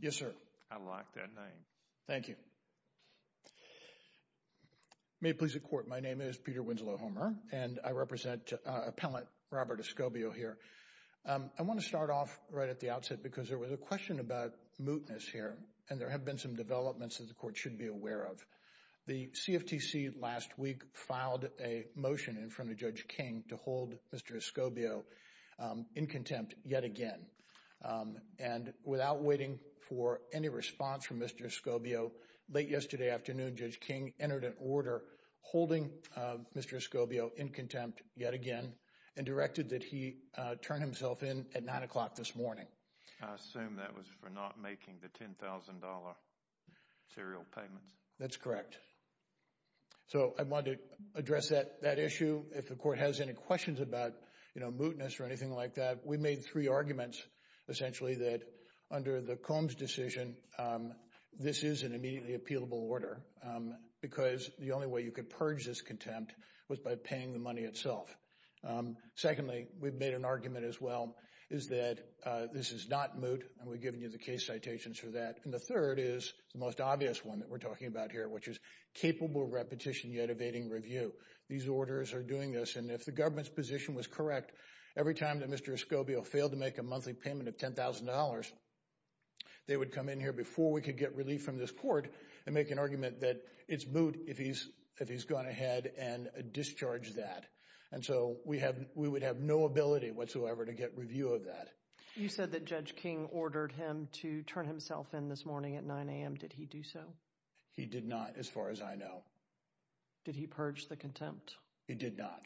Yes, sir. I like that name. Thank you. May it please the Court, my name is Peter Winslow Homer, and I represent appellant Robert Escobio here. I want to start off right at the outset because there was a question about mootness here, and there have been some developments that the Court should be aware of. The CFTC last week filed a motion in front of Judge King to hold Mr. Escobio in contempt yet again. And without waiting for any response from Mr. Escobio, late yesterday afternoon, Judge King entered an order holding Mr. Escobio in contempt yet again and directed that he turn himself in at 9 o'clock this morning. I assume that was for not making the $10,000 serial payments. That's correct. So I wanted to address that issue. If the Court has any questions about mootness or anything like that, we made three arguments essentially that under the Combs decision, this is an immediately appealable order because the only way you could purge this contempt was by paying the money itself. Secondly, we've made an argument as well is that this is not moot, and we've given you the case citations for that. And the third is the most obvious one that we're talking about here, which is capable repetition yet evading review. These orders are doing this, and if the government's position was correct, every time that Mr. Escobio failed to make a monthly payment of $10,000, they would come in here before we could get relief from this Court and make an argument that it's moot if he's gone ahead and discharged that. And so we would have no ability whatsoever to get review of that. You said that Judge King ordered him to turn himself in this morning at 9 a.m. Did he do so? He did not as far as I know. Did he purge the contempt? He did not.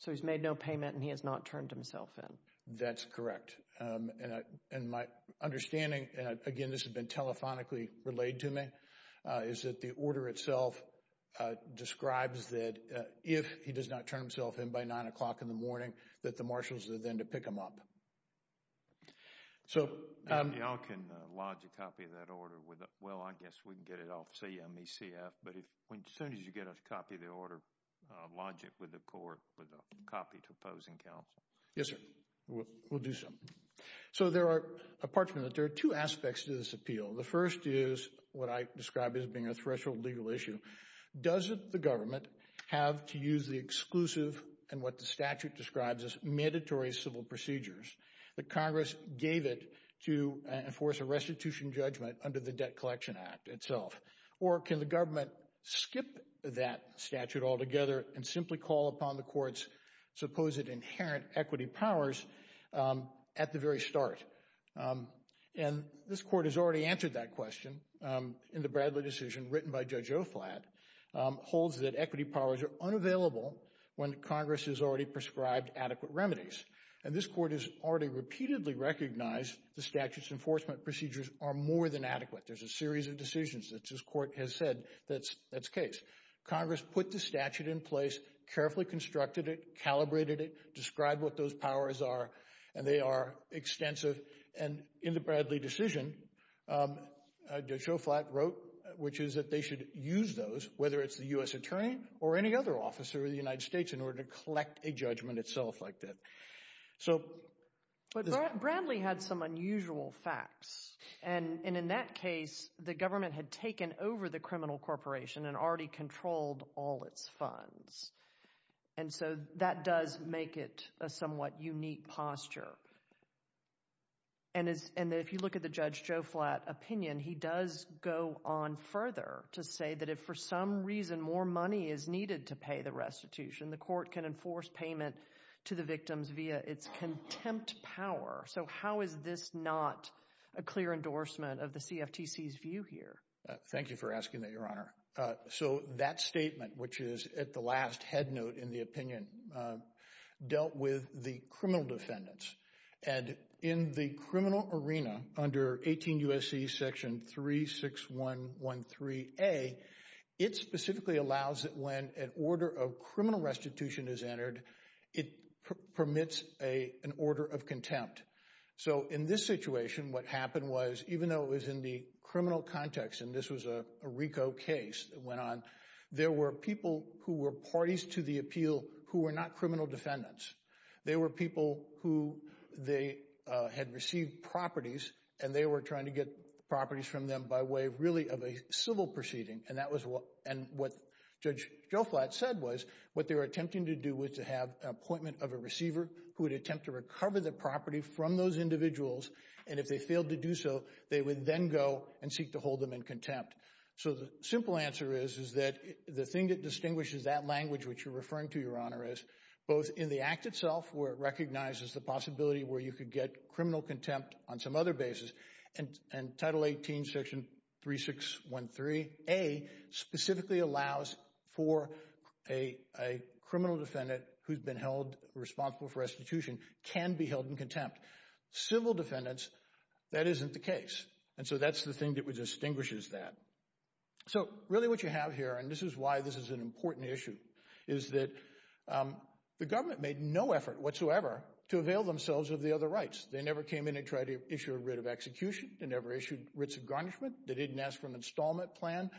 So he's made no payment and he has not turned himself in. That's correct. And my understanding, and again this has been telephonically relayed to me, is that the order itself describes that if he does not turn himself in by 9 o'clock in the morning, that the marshals are then to pick him up. So, um, y'all can lodge a copy of that order with, well I guess we can get it off CME-CF, but as soon as you get a copy of the order, lodge it with the Court with a copy to opposing counsel. Yes, sir. We'll do so. So there are, apart from that, there are two aspects to this appeal. The first is what I describe as being a threshold legal issue. Doesn't the government have to use the exclusive and what the statute describes as mandatory civil procedures that Congress gave it to enforce a restitution judgment under the Debt Collection Act itself? Or can the government skip that statute altogether and simply call upon the Court's supposed inherent equity powers at the very start? And this Court has already answered that question in the Bradley decision written by Judge Oflad, holds that equity powers are unavailable when Congress has already prescribed adequate remedies. And this Court has already repeatedly recognized the statute's enforcement procedures are more than adequate. There's a series of decisions that this Court has said that's, that's case. Congress put the statute in place, carefully constructed it, calibrated it, described what those powers are, and they are extensive. And in the Bradley decision, Judge Oflad wrote, which is that they should use those, whether it's the U.S. attorney or any other officer of the United States, in order to collect a judgment itself like that. So... But Bradley had some unusual facts. And in that case, the government had taken over the criminal corporation and already controlled all its funds. And so that does make it a somewhat unique posture. And if you look at the Judge Oflad opinion, he does go on further to say that if for some reason more money is needed to pay the restitution, the Court can enforce payment to the victims via its contempt power. So how is this not a clear endorsement of the CFTC's view here? Thank you for asking that, Your Honor. So that dealt with the criminal defendants. And in the criminal arena under 18 U.S.C. section 36113a, it specifically allows that when an order of criminal restitution is entered, it permits an order of contempt. So in this situation, what happened was, even though it was in the criminal context, and this was a RICO case that went on, there were people who were parties to the appeal who were not criminal defendants. They were people who they had received properties, and they were trying to get properties from them by way of really of a civil proceeding. And that was what... And what Judge Oflad said was, what they were attempting to do was to have an appointment of a receiver who would attempt to recover the property from those individuals. And if they failed to do so, they would then go and seek to hold them in contempt. So the simple answer is, that the thing that distinguishes that language which you're referring to, Your Honor, is both in the act itself, where it recognizes the possibility where you could get criminal contempt on some other basis, and Title 18 section 3613a specifically allows for a criminal defendant who's been held responsible for restitution can be held in contempt. Civil defendants, that isn't the case. And so that's the thing that distinguishes that. So really what you have here, and this is why this is an important issue, is that the government made no effort whatsoever to avail themselves of the other rights. They never came in and tried to issue a writ of execution. They never issued writs of garnishment. They didn't ask for an installment plan.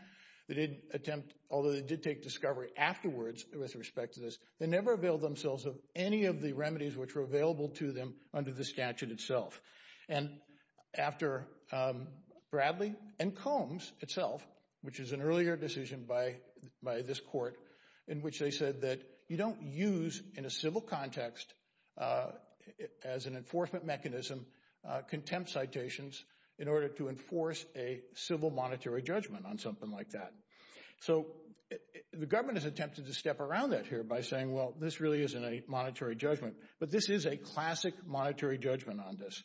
They didn't attempt, although they did take discovery afterwards with respect to this, they never availed themselves of any of the remedies which were available to them under the statute itself. And after Bradley and Combs itself, which is an earlier decision by this court, in which they said that you don't use in a civil context as an enforcement mechanism contempt citations in order to enforce a civil monetary judgment on something like that. So the government has attempted to step around that here by saying, well this really isn't a monetary judgment, but this is a classic monetary judgment on this.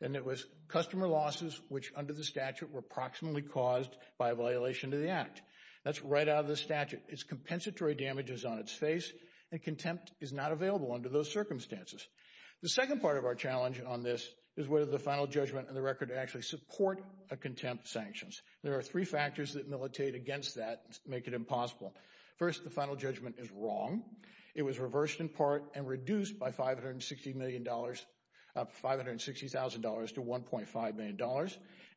And it was customer losses which under the statute were proximately caused by a violation to the act. That's right out of the statute. It's compensatory damages on its face and contempt is not available under those circumstances. The second part of our challenge on this is whether the final judgment and the record actually support a contempt sanctions. There are three factors that was reversed in part and reduced by $560,000 to $1.5 million.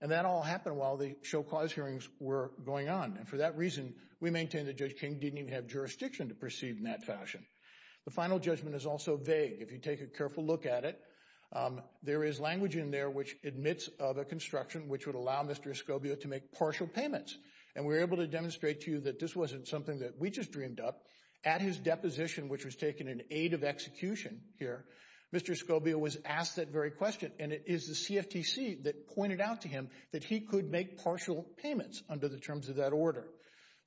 And that all happened while the show cause hearings were going on. And for that reason, we maintain that Judge King didn't even have jurisdiction to proceed in that fashion. The final judgment is also vague. If you take a careful look at it, there is language in there which admits of a construction which would allow Mr. Escobia to make partial payments. And we're able to demonstrate to you that this wasn't something that we just dreamed up. At his deposition, which was taken in aid of execution here, Mr. Escobia was asked that very question. And it is the CFTC that pointed out to him that he could make partial payments under the terms of that order.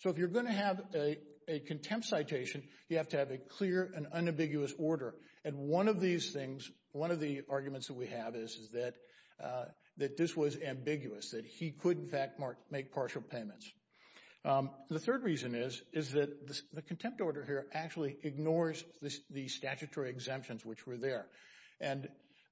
So if you're going to have a contempt citation, you have to have a clear and unambiguous order. And one of these things, one of the arguments that we have is that this was ambiguous, that he could in fact make partial payments. The third reason is, is that the contempt order here actually ignores the statutory exemptions which were there. And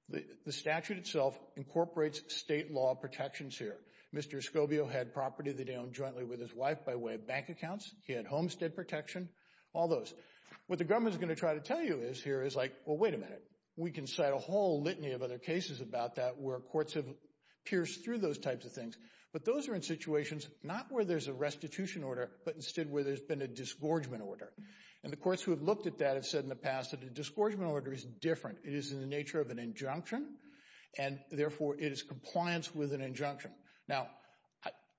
the statute itself incorporates state law protections here. Mr. Escobia had property that he owned jointly with his wife by way of bank accounts. He had homestead protection. All those. What the government is going to try to tell you is here is like, well, wait a minute. We can cite a whole litany of other cases about that where courts have not where there's a restitution order, but instead where there's been a disgorgement order. And the courts who have looked at that have said in the past that a disgorgement order is different. It is in the nature of an injunction and therefore it is compliance with an injunction. Now,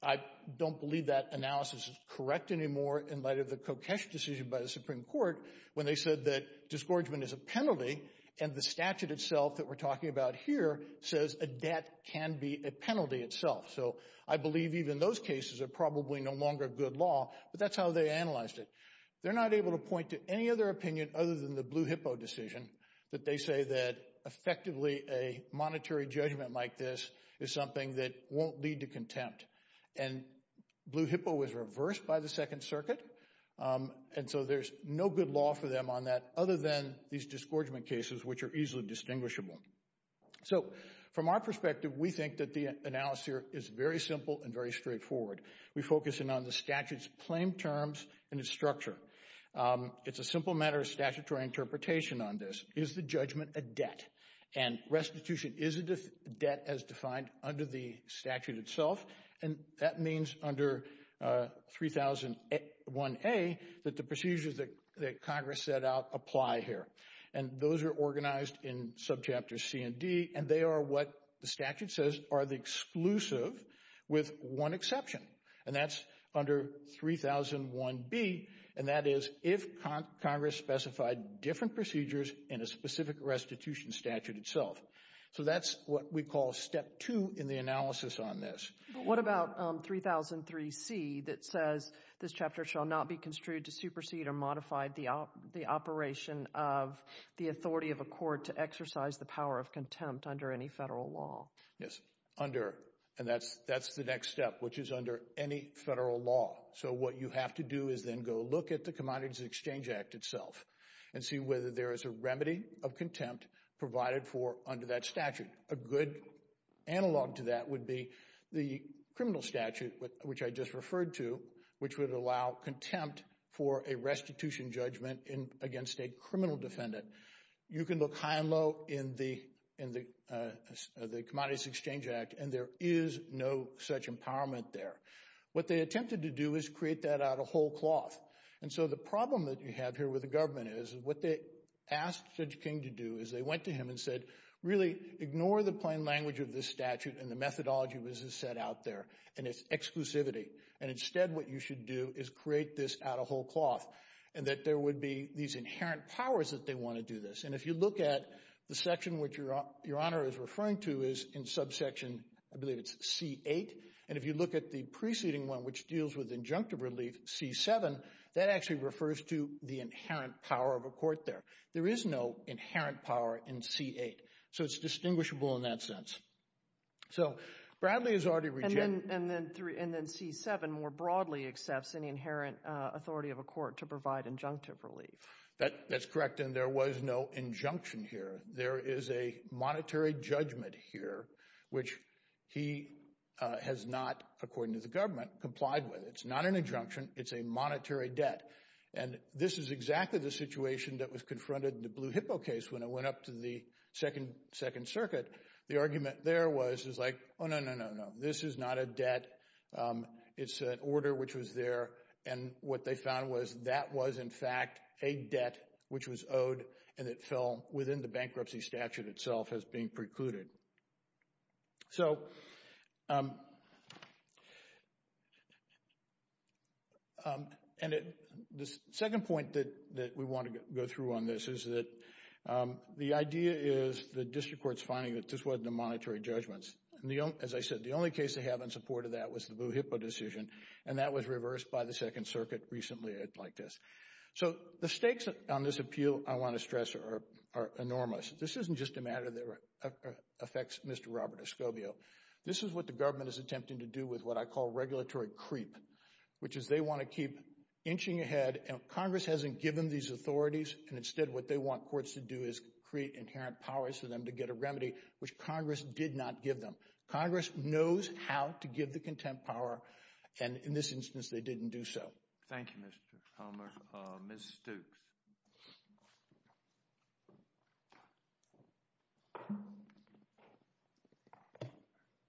I don't believe that analysis is correct anymore in light of the Kokesh decision by the Supreme Court when they said that disgorgement is a penalty and the statute itself that we're those cases are probably no longer good law, but that's how they analyzed it. They're not able to point to any other opinion other than the Blue Hippo decision that they say that effectively a monetary judgment like this is something that won't lead to contempt. And Blue Hippo was reversed by the Second Circuit. And so there's no good law for them on that other than these disgorgement cases, which are easily distinguishable. So from our perspective, we think that the analysis here is very simple and very straightforward. We focus in on the statute's claim terms and its structure. It's a simple matter of statutory interpretation on this. Is the judgment a debt? And restitution is a debt as defined under the statute itself. And that means under 3001A that the procedures that Congress set out apply here. And those are organized in are the exclusive with one exception. And that's under 3001B. And that is if Congress specified different procedures in a specific restitution statute itself. So that's what we call step two in the analysis on this. But what about 3003C that says this chapter shall not be construed to supersede or modify the operation of the authority of a court to exercise the power of contempt under any federal law? Yes, under. And that's the next step, which is under any federal law. So what you have to do is then go look at the Commodities Exchange Act itself and see whether there is a remedy of contempt provided for under that statute. A good analog to that would be the criminal statute, which I just referred to, which would allow contempt for a restitution judgment against a criminal defendant. You can look high and low in the Commodities Exchange Act and there is no such empowerment there. What they attempted to do is create that out of whole cloth. And so the problem that you have here with the government is what they asked Judge King to do is they went to him and said, really ignore the plain language of this statute and the methodology as it's set out there and its exclusivity. And instead what you should do is create this out of whole cloth. And that there would be these inherent powers that want to do this. And if you look at the section which Your Honor is referring to is in subsection, I believe it's C-8. And if you look at the preceding one, which deals with injunctive relief, C-7, that actually refers to the inherent power of a court there. There is no inherent power in C-8. So it's distinguishable in that sense. So Bradley has already rejected... And then C-7 more broadly accepts any inherent authority of a court to provide injunctive relief. That's correct. And there was no injunction here. There is a monetary judgment here, which he has not, according to the government, complied with. It's not an injunction. It's a monetary debt. And this is exactly the situation that was confronted in the Blue Hippo case when it went up to the Second Circuit. The argument there was like, oh, no, no, no, no. This is not a debt. It's an order which was there. And what they found was that was, in fact, a debt which was owed and it fell within the bankruptcy statute itself as being precluded. And the second point that we want to go through on this is that the idea is the district court's finding that this is the only case they have in support of the monetary judgments. As I said, the only case they have in support of that was the Blue Hippo decision. And that was reversed by the Second Circuit recently. So the stakes on this appeal, I want to stress, are enormous. This isn't just a matter that affects Mr. Robert Escobio. This is what the government is attempting to do with what I call regulatory creep, which is they want to keep inching ahead. Congress hasn't given these authorities, and instead what they want courts to do is create inherent powers for them to get a remedy, which Congress did not give them. Congress knows how to give the contempt power, and in this instance they didn't do so. Thank you, Mr. Palmer. Ms. Stooks.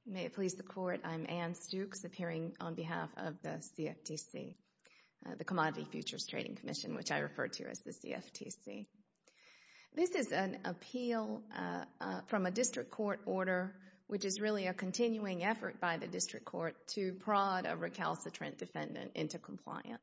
May it please the Court, I'm Ann Stooks, appearing on behalf of the CFTC, the Commodity Futures Trading Commission, which I refer to as the CFTC. This is an appeal from a district court order, which is really a continuing effort by the district court to prod a recalcitrant defendant into compliance.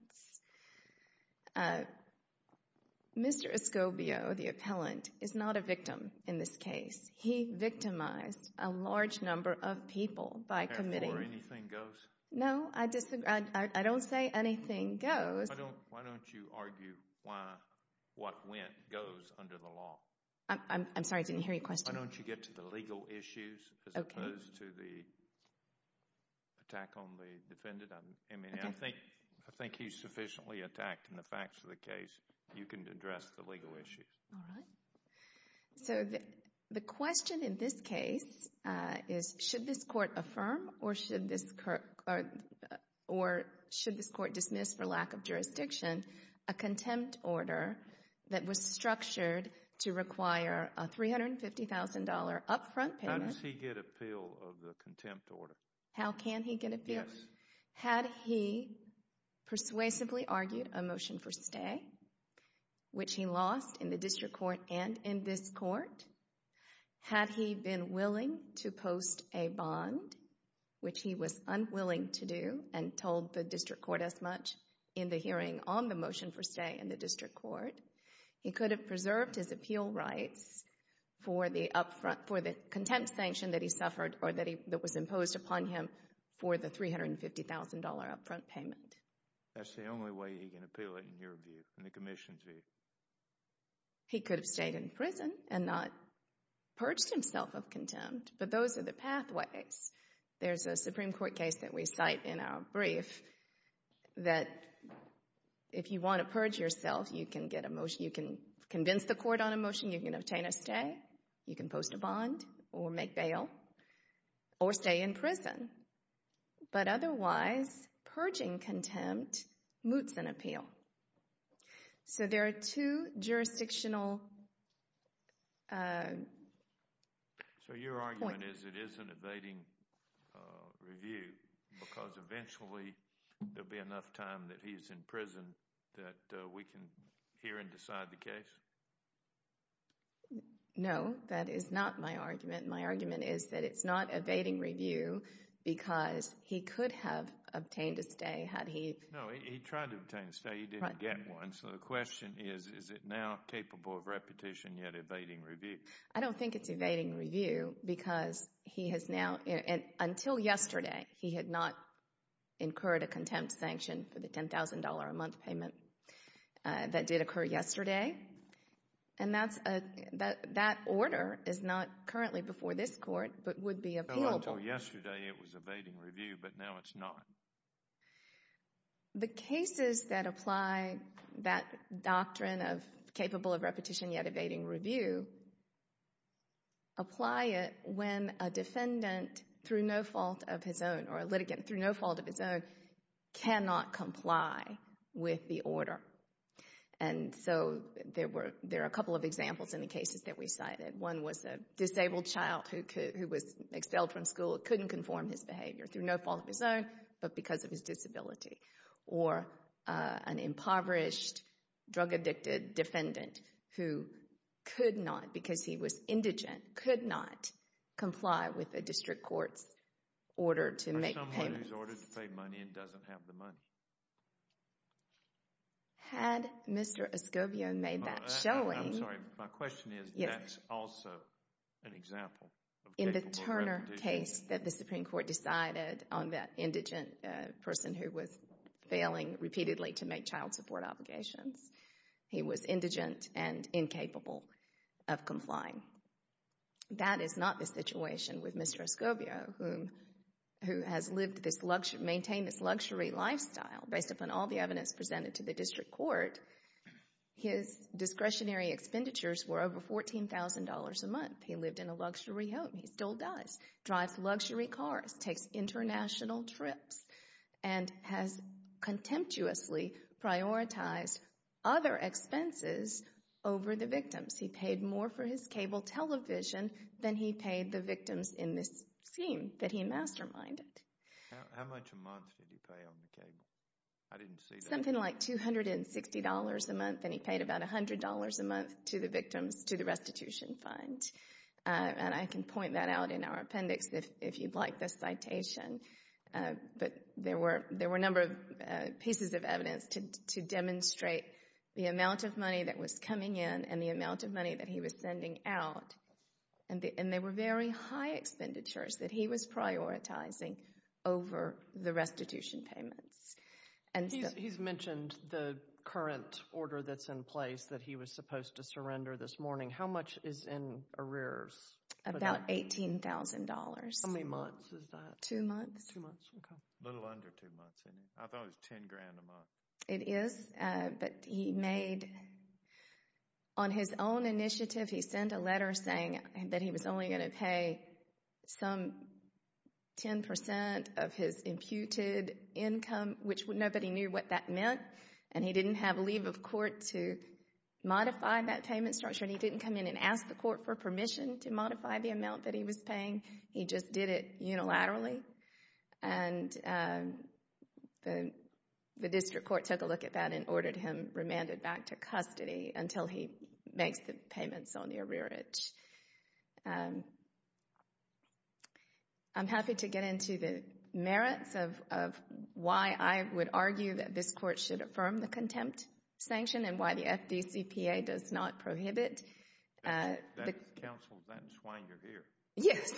Mr. Escobio, the appellant, is not a victim in this case. He victimized a large number of people by committing— Therefore, anything goes. No, I disagree. I don't say anything goes. Why don't you argue what went goes under the law? I'm sorry, I didn't hear your question. Why don't you get to the legal issues as opposed to the attack on the defendant? I mean, I think he's sufficiently attacked in the facts of the case. You can address the legal issues. All right. So, the question in this case is, should this court affirm or should this court dismiss, for lack of jurisdiction, a contempt order that was structured to require a $350,000 upfront payment— How does he get appeal of the contempt order? How can he get appeal? Yes. Had he persuasively argued a motion for stay, which he lost in the district court and in this court? Had he been willing to post a bond, which he was unwilling to do and told the district court as much in the hearing on the motion for stay in the district court, he could have preserved his appeal rights for the contempt sanction that he suffered or that was imposed upon him for the $350,000 upfront payment. That's the only way he can appeal it in your view, in the commission's view? He could have stayed in prison and not purged himself of contempt, but those are the pathways. There's a Supreme Court case that we cite in our brief that if you want to purge yourself, you can get a motion, you can convince the court on a motion, you can obtain a stay, you can post a bond or make bail or stay in prison. But otherwise, purging contempt moots an appeal. So there are two jurisdictional points. So your argument is it is an evading review because eventually there'll be enough time that he's in prison that we can hear and decide the case? No, that is not my argument. My argument is that it's not evading review because he could have obtained a stay had he— No, he tried to obtain a stay, he didn't get one. So the question is, is it now capable of repetition yet evading review? I don't think it's evading review because he has now—until yesterday, he had not incurred a contempt sanction for the $10,000 a month payment that did occur yesterday. And that order is not currently before this court, but would be appealable. No, until yesterday it was evading review, but now it's not. The cases that apply that doctrine of capable of repetition yet evading review apply it when a defendant through no fault of his own or a litigant through no fault of his own cannot comply with the order. And so there are a couple of examples in the cases that we cited. One was a disabled child who was expelled from school, couldn't conform his behavior through no fault of his own, but because of his disability. Or an impoverished, drug-addicted defendant who could not, because he was indigent, could not comply with a district court's order to make payments. Or someone who's ordered to pay money and doesn't have the money. Had Mr. Escobio made that showing— I'm sorry, my question is, that's also an example of capable of repetition. The case that the Supreme Court decided on that indigent person who was failing repeatedly to make child support obligations, he was indigent and incapable of complying. That is not the situation with Mr. Escobio, who has lived this luxury, maintained this luxury lifestyle based upon all the evidence presented to the district court. His discretionary expenditures were over $14,000 a month. He lived in a luxury home. He still does. Drives luxury cars. Takes international trips. And has contemptuously prioritized other expenses over the victims. He paid more for his cable television than he paid the victims in this scheme that he masterminded. How much a month did he pay on the cable? I didn't see that. Something like $260 a month. And he paid about $100 a month to the victims, to the restitution fund. And I can point that out in our appendix if you'd like the citation. But there were a number of pieces of evidence to demonstrate the amount of money that was coming in and the amount of money that he was sending out. And they were very high expenditures that he was prioritizing over the restitution payments. He's mentioned the current order that's in place that he was supposed to surrender this morning. How much is in arrears? About $18,000. How many months is that? Two months. Two months. Okay. A little under two months. I thought it was $10,000 a month. It is. But he made, on his own initiative, he sent a letter saying that he was only going to pay some 10% of his imputed income, which nobody knew what that meant. And he didn't have leave of court to modify that payment structure. He didn't come in and ask the court for permission to modify the amount that he was paying. He just did it unilaterally. And the district court took a look at that and ordered him remanded back to custody until he makes the payments on the arrearage. I'm happy to get into the merits of why I would argue that this court should affirm the contempt sanction and why the FDCPA does not prohibit. That's counsel. That's why you're here. Yes,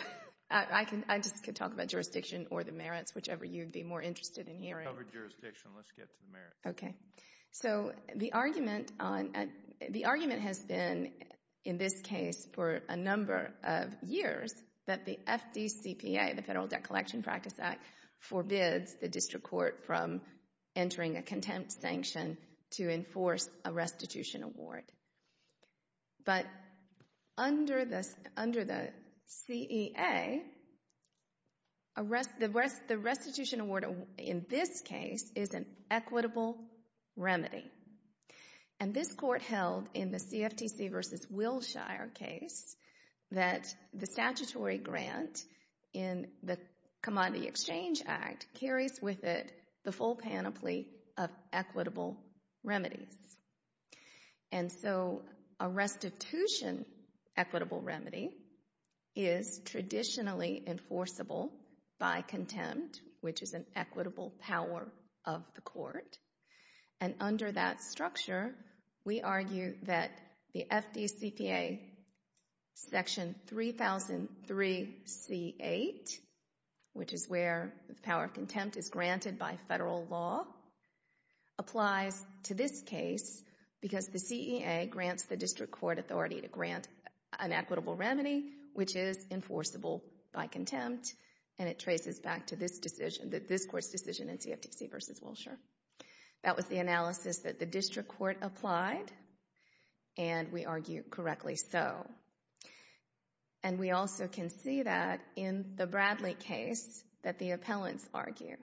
I just could talk about jurisdiction or the merits, whichever you'd be more interested in hearing. Covered jurisdiction. Let's get to the merits. Okay. The argument has been, in this case, for a number of years that the FDCPA, the Federal Debt Collection Practice Act, forbids the district court from entering a contempt sanction to enforce a restitution award. But under the CEA, the restitution award in this case is an equitable remedy. And this court held in the CFTC v. Wilshire case that the statutory grant in the of equitable remedies. And so a restitution equitable remedy is traditionally enforceable by contempt, which is an equitable power of the court. And under that structure, we argue that the FDCPA section 3003c8, which is where the power of contempt is granted by federal law, applies to this case because the CEA grants the district court authority to grant an equitable remedy, which is enforceable by contempt. And it traces back to this decision, this court's decision in CFTC v. Wilshire. That was the analysis that the district court applied. And we argue correctly so. And we also can see that in the Bradley case that the appellants argue.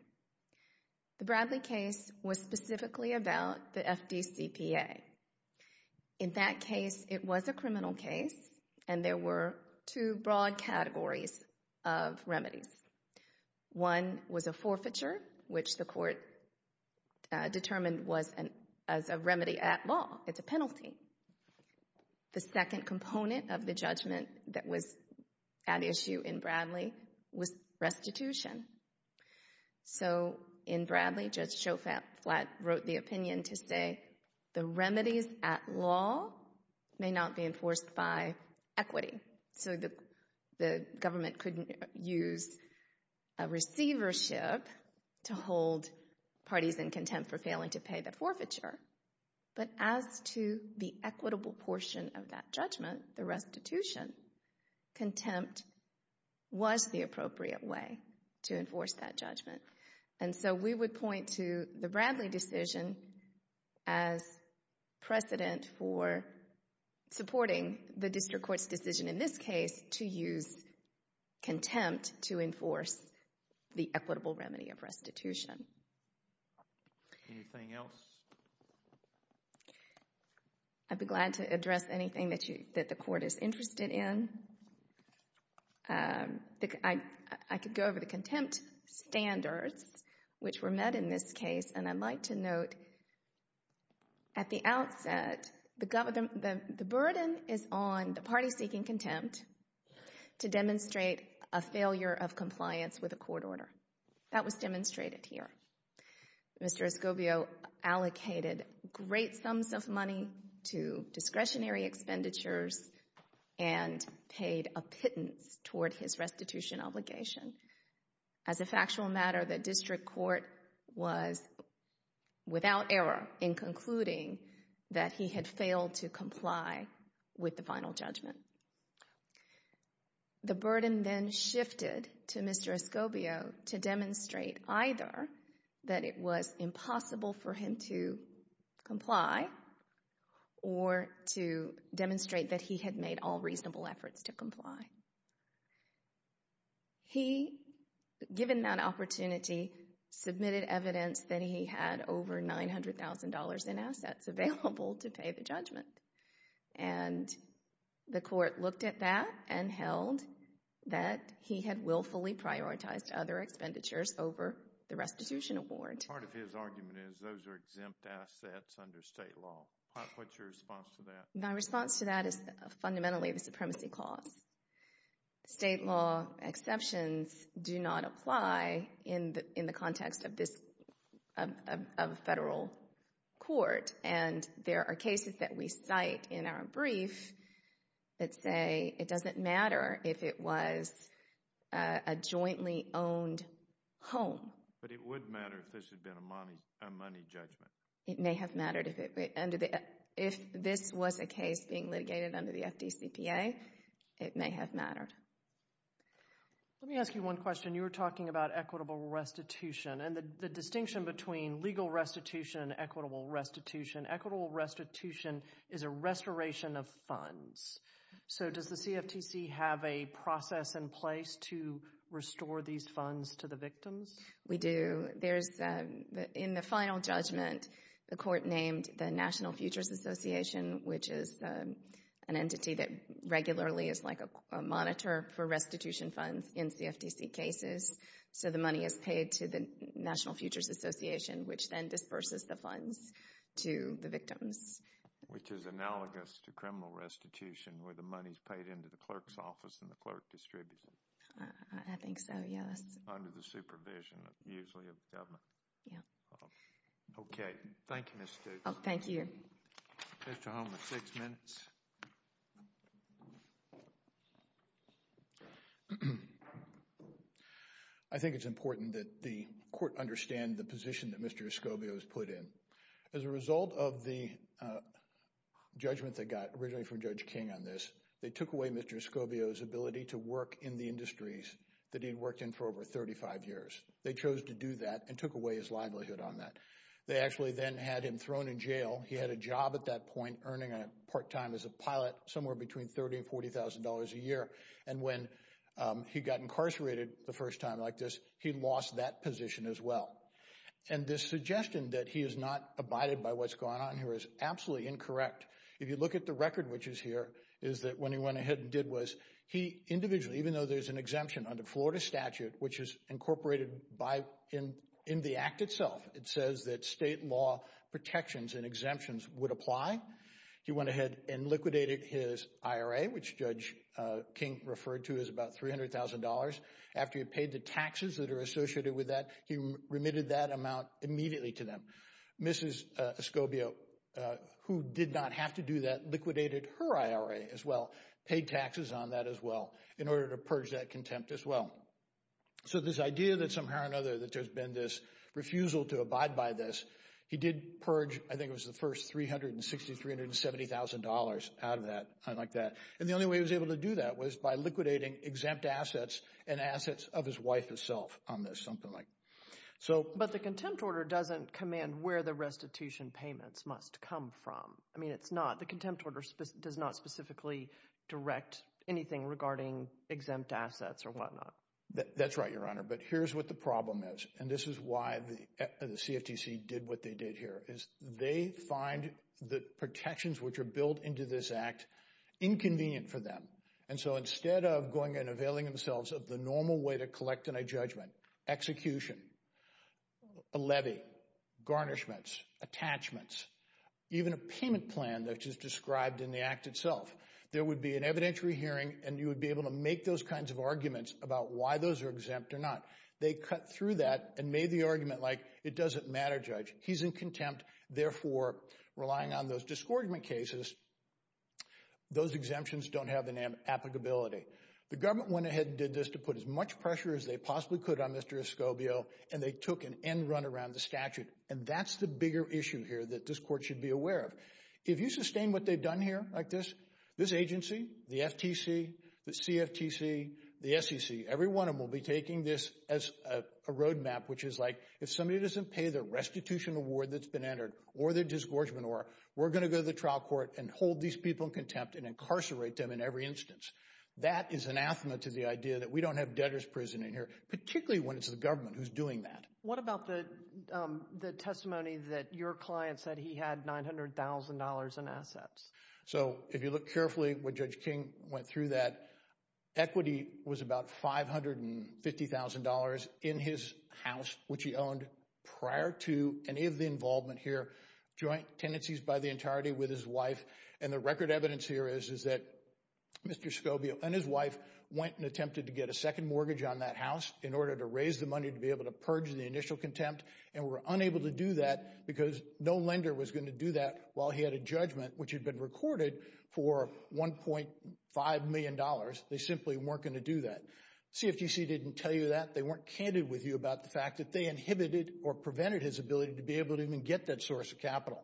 The Bradley case was specifically about the FDCPA. In that case, it was a criminal case, and there were two broad categories of remedies. One was a forfeiture, which the court determined was a remedy at law. It's a penalty. The second component of the judgment that was at issue in Bradley was restitution. So in Bradley, Judge Schofield wrote the opinion to say, the remedies at law may not be enforced by equity. So the government couldn't use a receivership to hold parties in contempt for failing to pay the forfeiture. But as to the equitable portion of that judgment, the restitution, contempt was the appropriate way to enforce that judgment. And so we would point to the Bradley decision as precedent for supporting the district court's decision in this case to use contempt to enforce the equitable remedy of restitution. Anything else? I'd be glad to address anything that you, that the court is interested in. I could go over the contempt standards which were met in this case, and I'd like to note at the outset, the burden is on the party seeking contempt to demonstrate a failure of compliance with a court order. That was demonstrated here. Mr. Escobio allocated great sums of money to discretionary expenditures and paid a pittance toward his restitution obligation. As a factual matter, the district court was without error in concluding that he had failed to comply with the final judgment. The burden then shifted to Mr. Escobio to demonstrate either that it was impossible for him to comply or to demonstrate that he had made all reasonable efforts to comply. He, given that opportunity, submitted evidence that he had over $900,000 in assets available to pay the judgment. And the court looked at that and held that he had willfully prioritized other expenditures over the restitution award. Part of his argument is those are exempt assets under state law. What's your response to that? My response to that is fundamentally the supremacy clause. State law exceptions do not apply in the context of this, of a federal court. And there are cases that we cite in our brief that say it doesn't matter if it was a jointly owned home. But it would matter if this had been a money judgment. It may have mattered if this was a case being litigated under the FDCPA. It may have mattered. Let me ask you one question. You were talking about equitable restitution. And the distinction between legal restitution and equitable restitution, equitable restitution is a restoration of funds. So does the CFTC have a process in place to restore these funds to the victims? We do. There's, in the final judgment, the court named the National Futures Association, which is an entity that regularly is like a monitor for restitution funds in CFTC cases. So the money is paid to the National Futures Association, which then disperses the funds to the victims. Which is analogous to criminal restitution, where the money's paid into the clerk's office and the clerk distributes it. I think so, yes. Under the supervision usually of government. Yeah. Okay. Thank you, Ms. Stutes. Thank you. Mr. Holman, six minutes. I think it's important that the court understand the position that Mr. Escobio's put in. As a result of the judgment that got originally from Judge King on this, they took away Mr. Escobio's ability to work in the industries that he'd worked in for over 35 years. They chose to do that and took away his livelihood on that. They actually then had him thrown in jail. He had a job at that point, earning a part-time as a pilot, somewhere between $30,000 and $40,000 a year. When he got incarcerated the first time like this, he lost that position as well. This suggestion that he has not abided by what's going on here is absolutely incorrect. If you look at the record, which is here, is that when he went ahead and did was, he individually, even though there's an exemption under Florida statute, which is incorporated in the act itself, it says that state law protections and exemptions would apply. He went ahead and liquidated his IRA, which Judge King referred to as about $300,000. After he paid the taxes that are associated with that, he remitted that amount immediately to them. Mrs. Escobio, who did not have to do that, liquidated her IRA as well, paid taxes on that as well, in order to purge that contempt as well. So this idea that somehow or another that there's been this refusal to abide by this, he did purge, I think it was the first, $360,000, $370,000 out of that. I like that. And the only way he was able to do that was by liquidating exempt assets and assets of his wife herself on this, something like. But the contempt order doesn't command where the restitution payments must come from. I mean, it's not. The contempt order does not specifically direct anything regarding exempt assets or whatnot. That's right, Your Honor, but here's what the problem is, and this is why the CFTC did what they did here, is they find the protections which are built into this act inconvenient for them. And so instead of going and availing themselves of the normal way to collect an adjudgment, execution, a levy, garnishments, attachments, even a payment plan that is described in the act itself, there would be an evidentiary hearing, and you would be able to make those kinds of arguments about why those are exempt or not. They cut through that and made the argument like, it doesn't matter, Judge, he's in contempt. Therefore, relying on those discouragement cases, those exemptions don't have an applicability. The government went ahead and did this to put as much pressure as they possibly could on Mr. Escobio, and they took an end run around the statute. And that's the bigger issue here that this Court should be aware of. If you sustain what they've done here like this, this agency, the FTC, the CFTC, the SEC, every one of them will be taking this as a roadmap, which is like if somebody doesn't pay the restitution award that's been entered or the discouragement award, we're going to go to the trial court and hold these people in contempt and incarcerate them in every instance. That is anathema to the idea that we don't have debtor's prison in here, particularly when it's the government who's doing that. What about the testimony that your client said he had $900,000 in assets? So if you look carefully what Judge King went through that, equity was about $550,000 in his house, which he owned prior to any of the involvement here, joint tenancies by the entirety with his wife. And the record evidence here is that Mr. Escobio and his wife went and attempted to get a second mortgage on that house in order to raise the money to be able to purge the initial contempt, and were unable to do that because no lender was going to do that while he had a judgment which had been recorded for $1.5 million. They simply weren't going to do that. CFTC didn't tell you that. They weren't candid with you about the fact that they inhibited or prevented his ability to be able to even get that source of capital.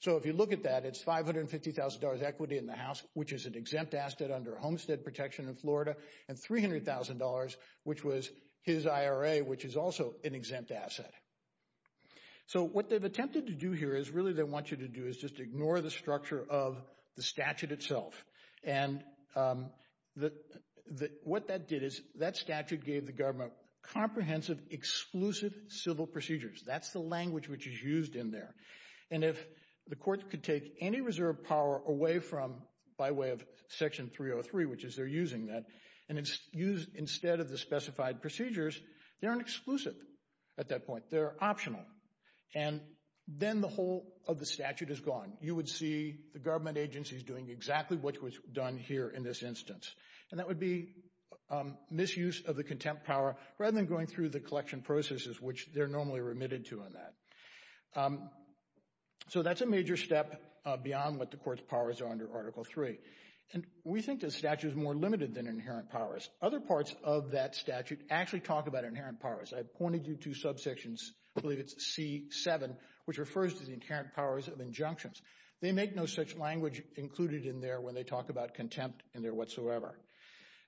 So if you look at that, it's $550,000 equity in the house, which is an exempt asset under Homestead Protection in Florida, and $300,000, which was his IRA, which is also an exempt asset. So what they've attempted to do here is really they want you to do is just ignore the structure of the statute itself. And what that did is that statute gave the government comprehensive, exclusive civil procedures. That's the language which is used in there. And if the court could take any reserve power away from, by way of Section 303, which is they're using that, and instead of the specified procedures, they aren't exclusive at that point. They're optional. And then the whole of the statute is gone. You would see the government agencies doing exactly what was done here in this instance. And that would be misuse of the contempt power rather than going through the collection processes, which they're normally remitted to on that. So that's a major step beyond what the court's powers are under Article III. And we think the statute is more limited than inherent powers. Other parts of that statute actually talk about inherent powers. I pointed you to subsections, I believe it's C-7, which refers to the inherent powers of injunctions. They make no such language included in there when they talk about contempt in there whatsoever.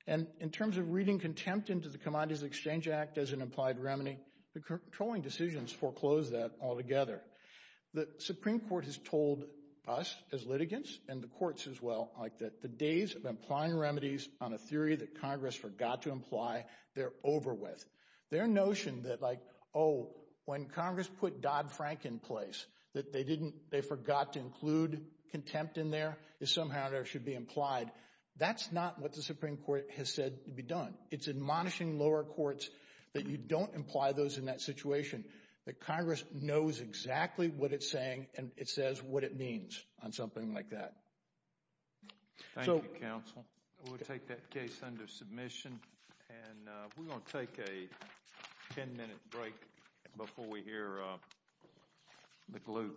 And in terms of reading contempt into the Commodities Exchange Act as an implied remedy, the controlling decisions foreclose that altogether. The Supreme Court has told us as litigants, and the courts as well, like that the days of implying remedies on a theory that Congress forgot to imply, they're over with. Their notion that like, when Congress put Dodd-Frank in place, that they forgot to include contempt in there, is somehow there should be implied. That's not what the Supreme Court has said to be done. It's admonishing lower courts that you don't imply those in that situation. That Congress knows exactly what it's saying and it says what it means on something like that. Thank you, counsel. We'll take that case under submission. And we're going to take a 10-minute break before we hear the glue case.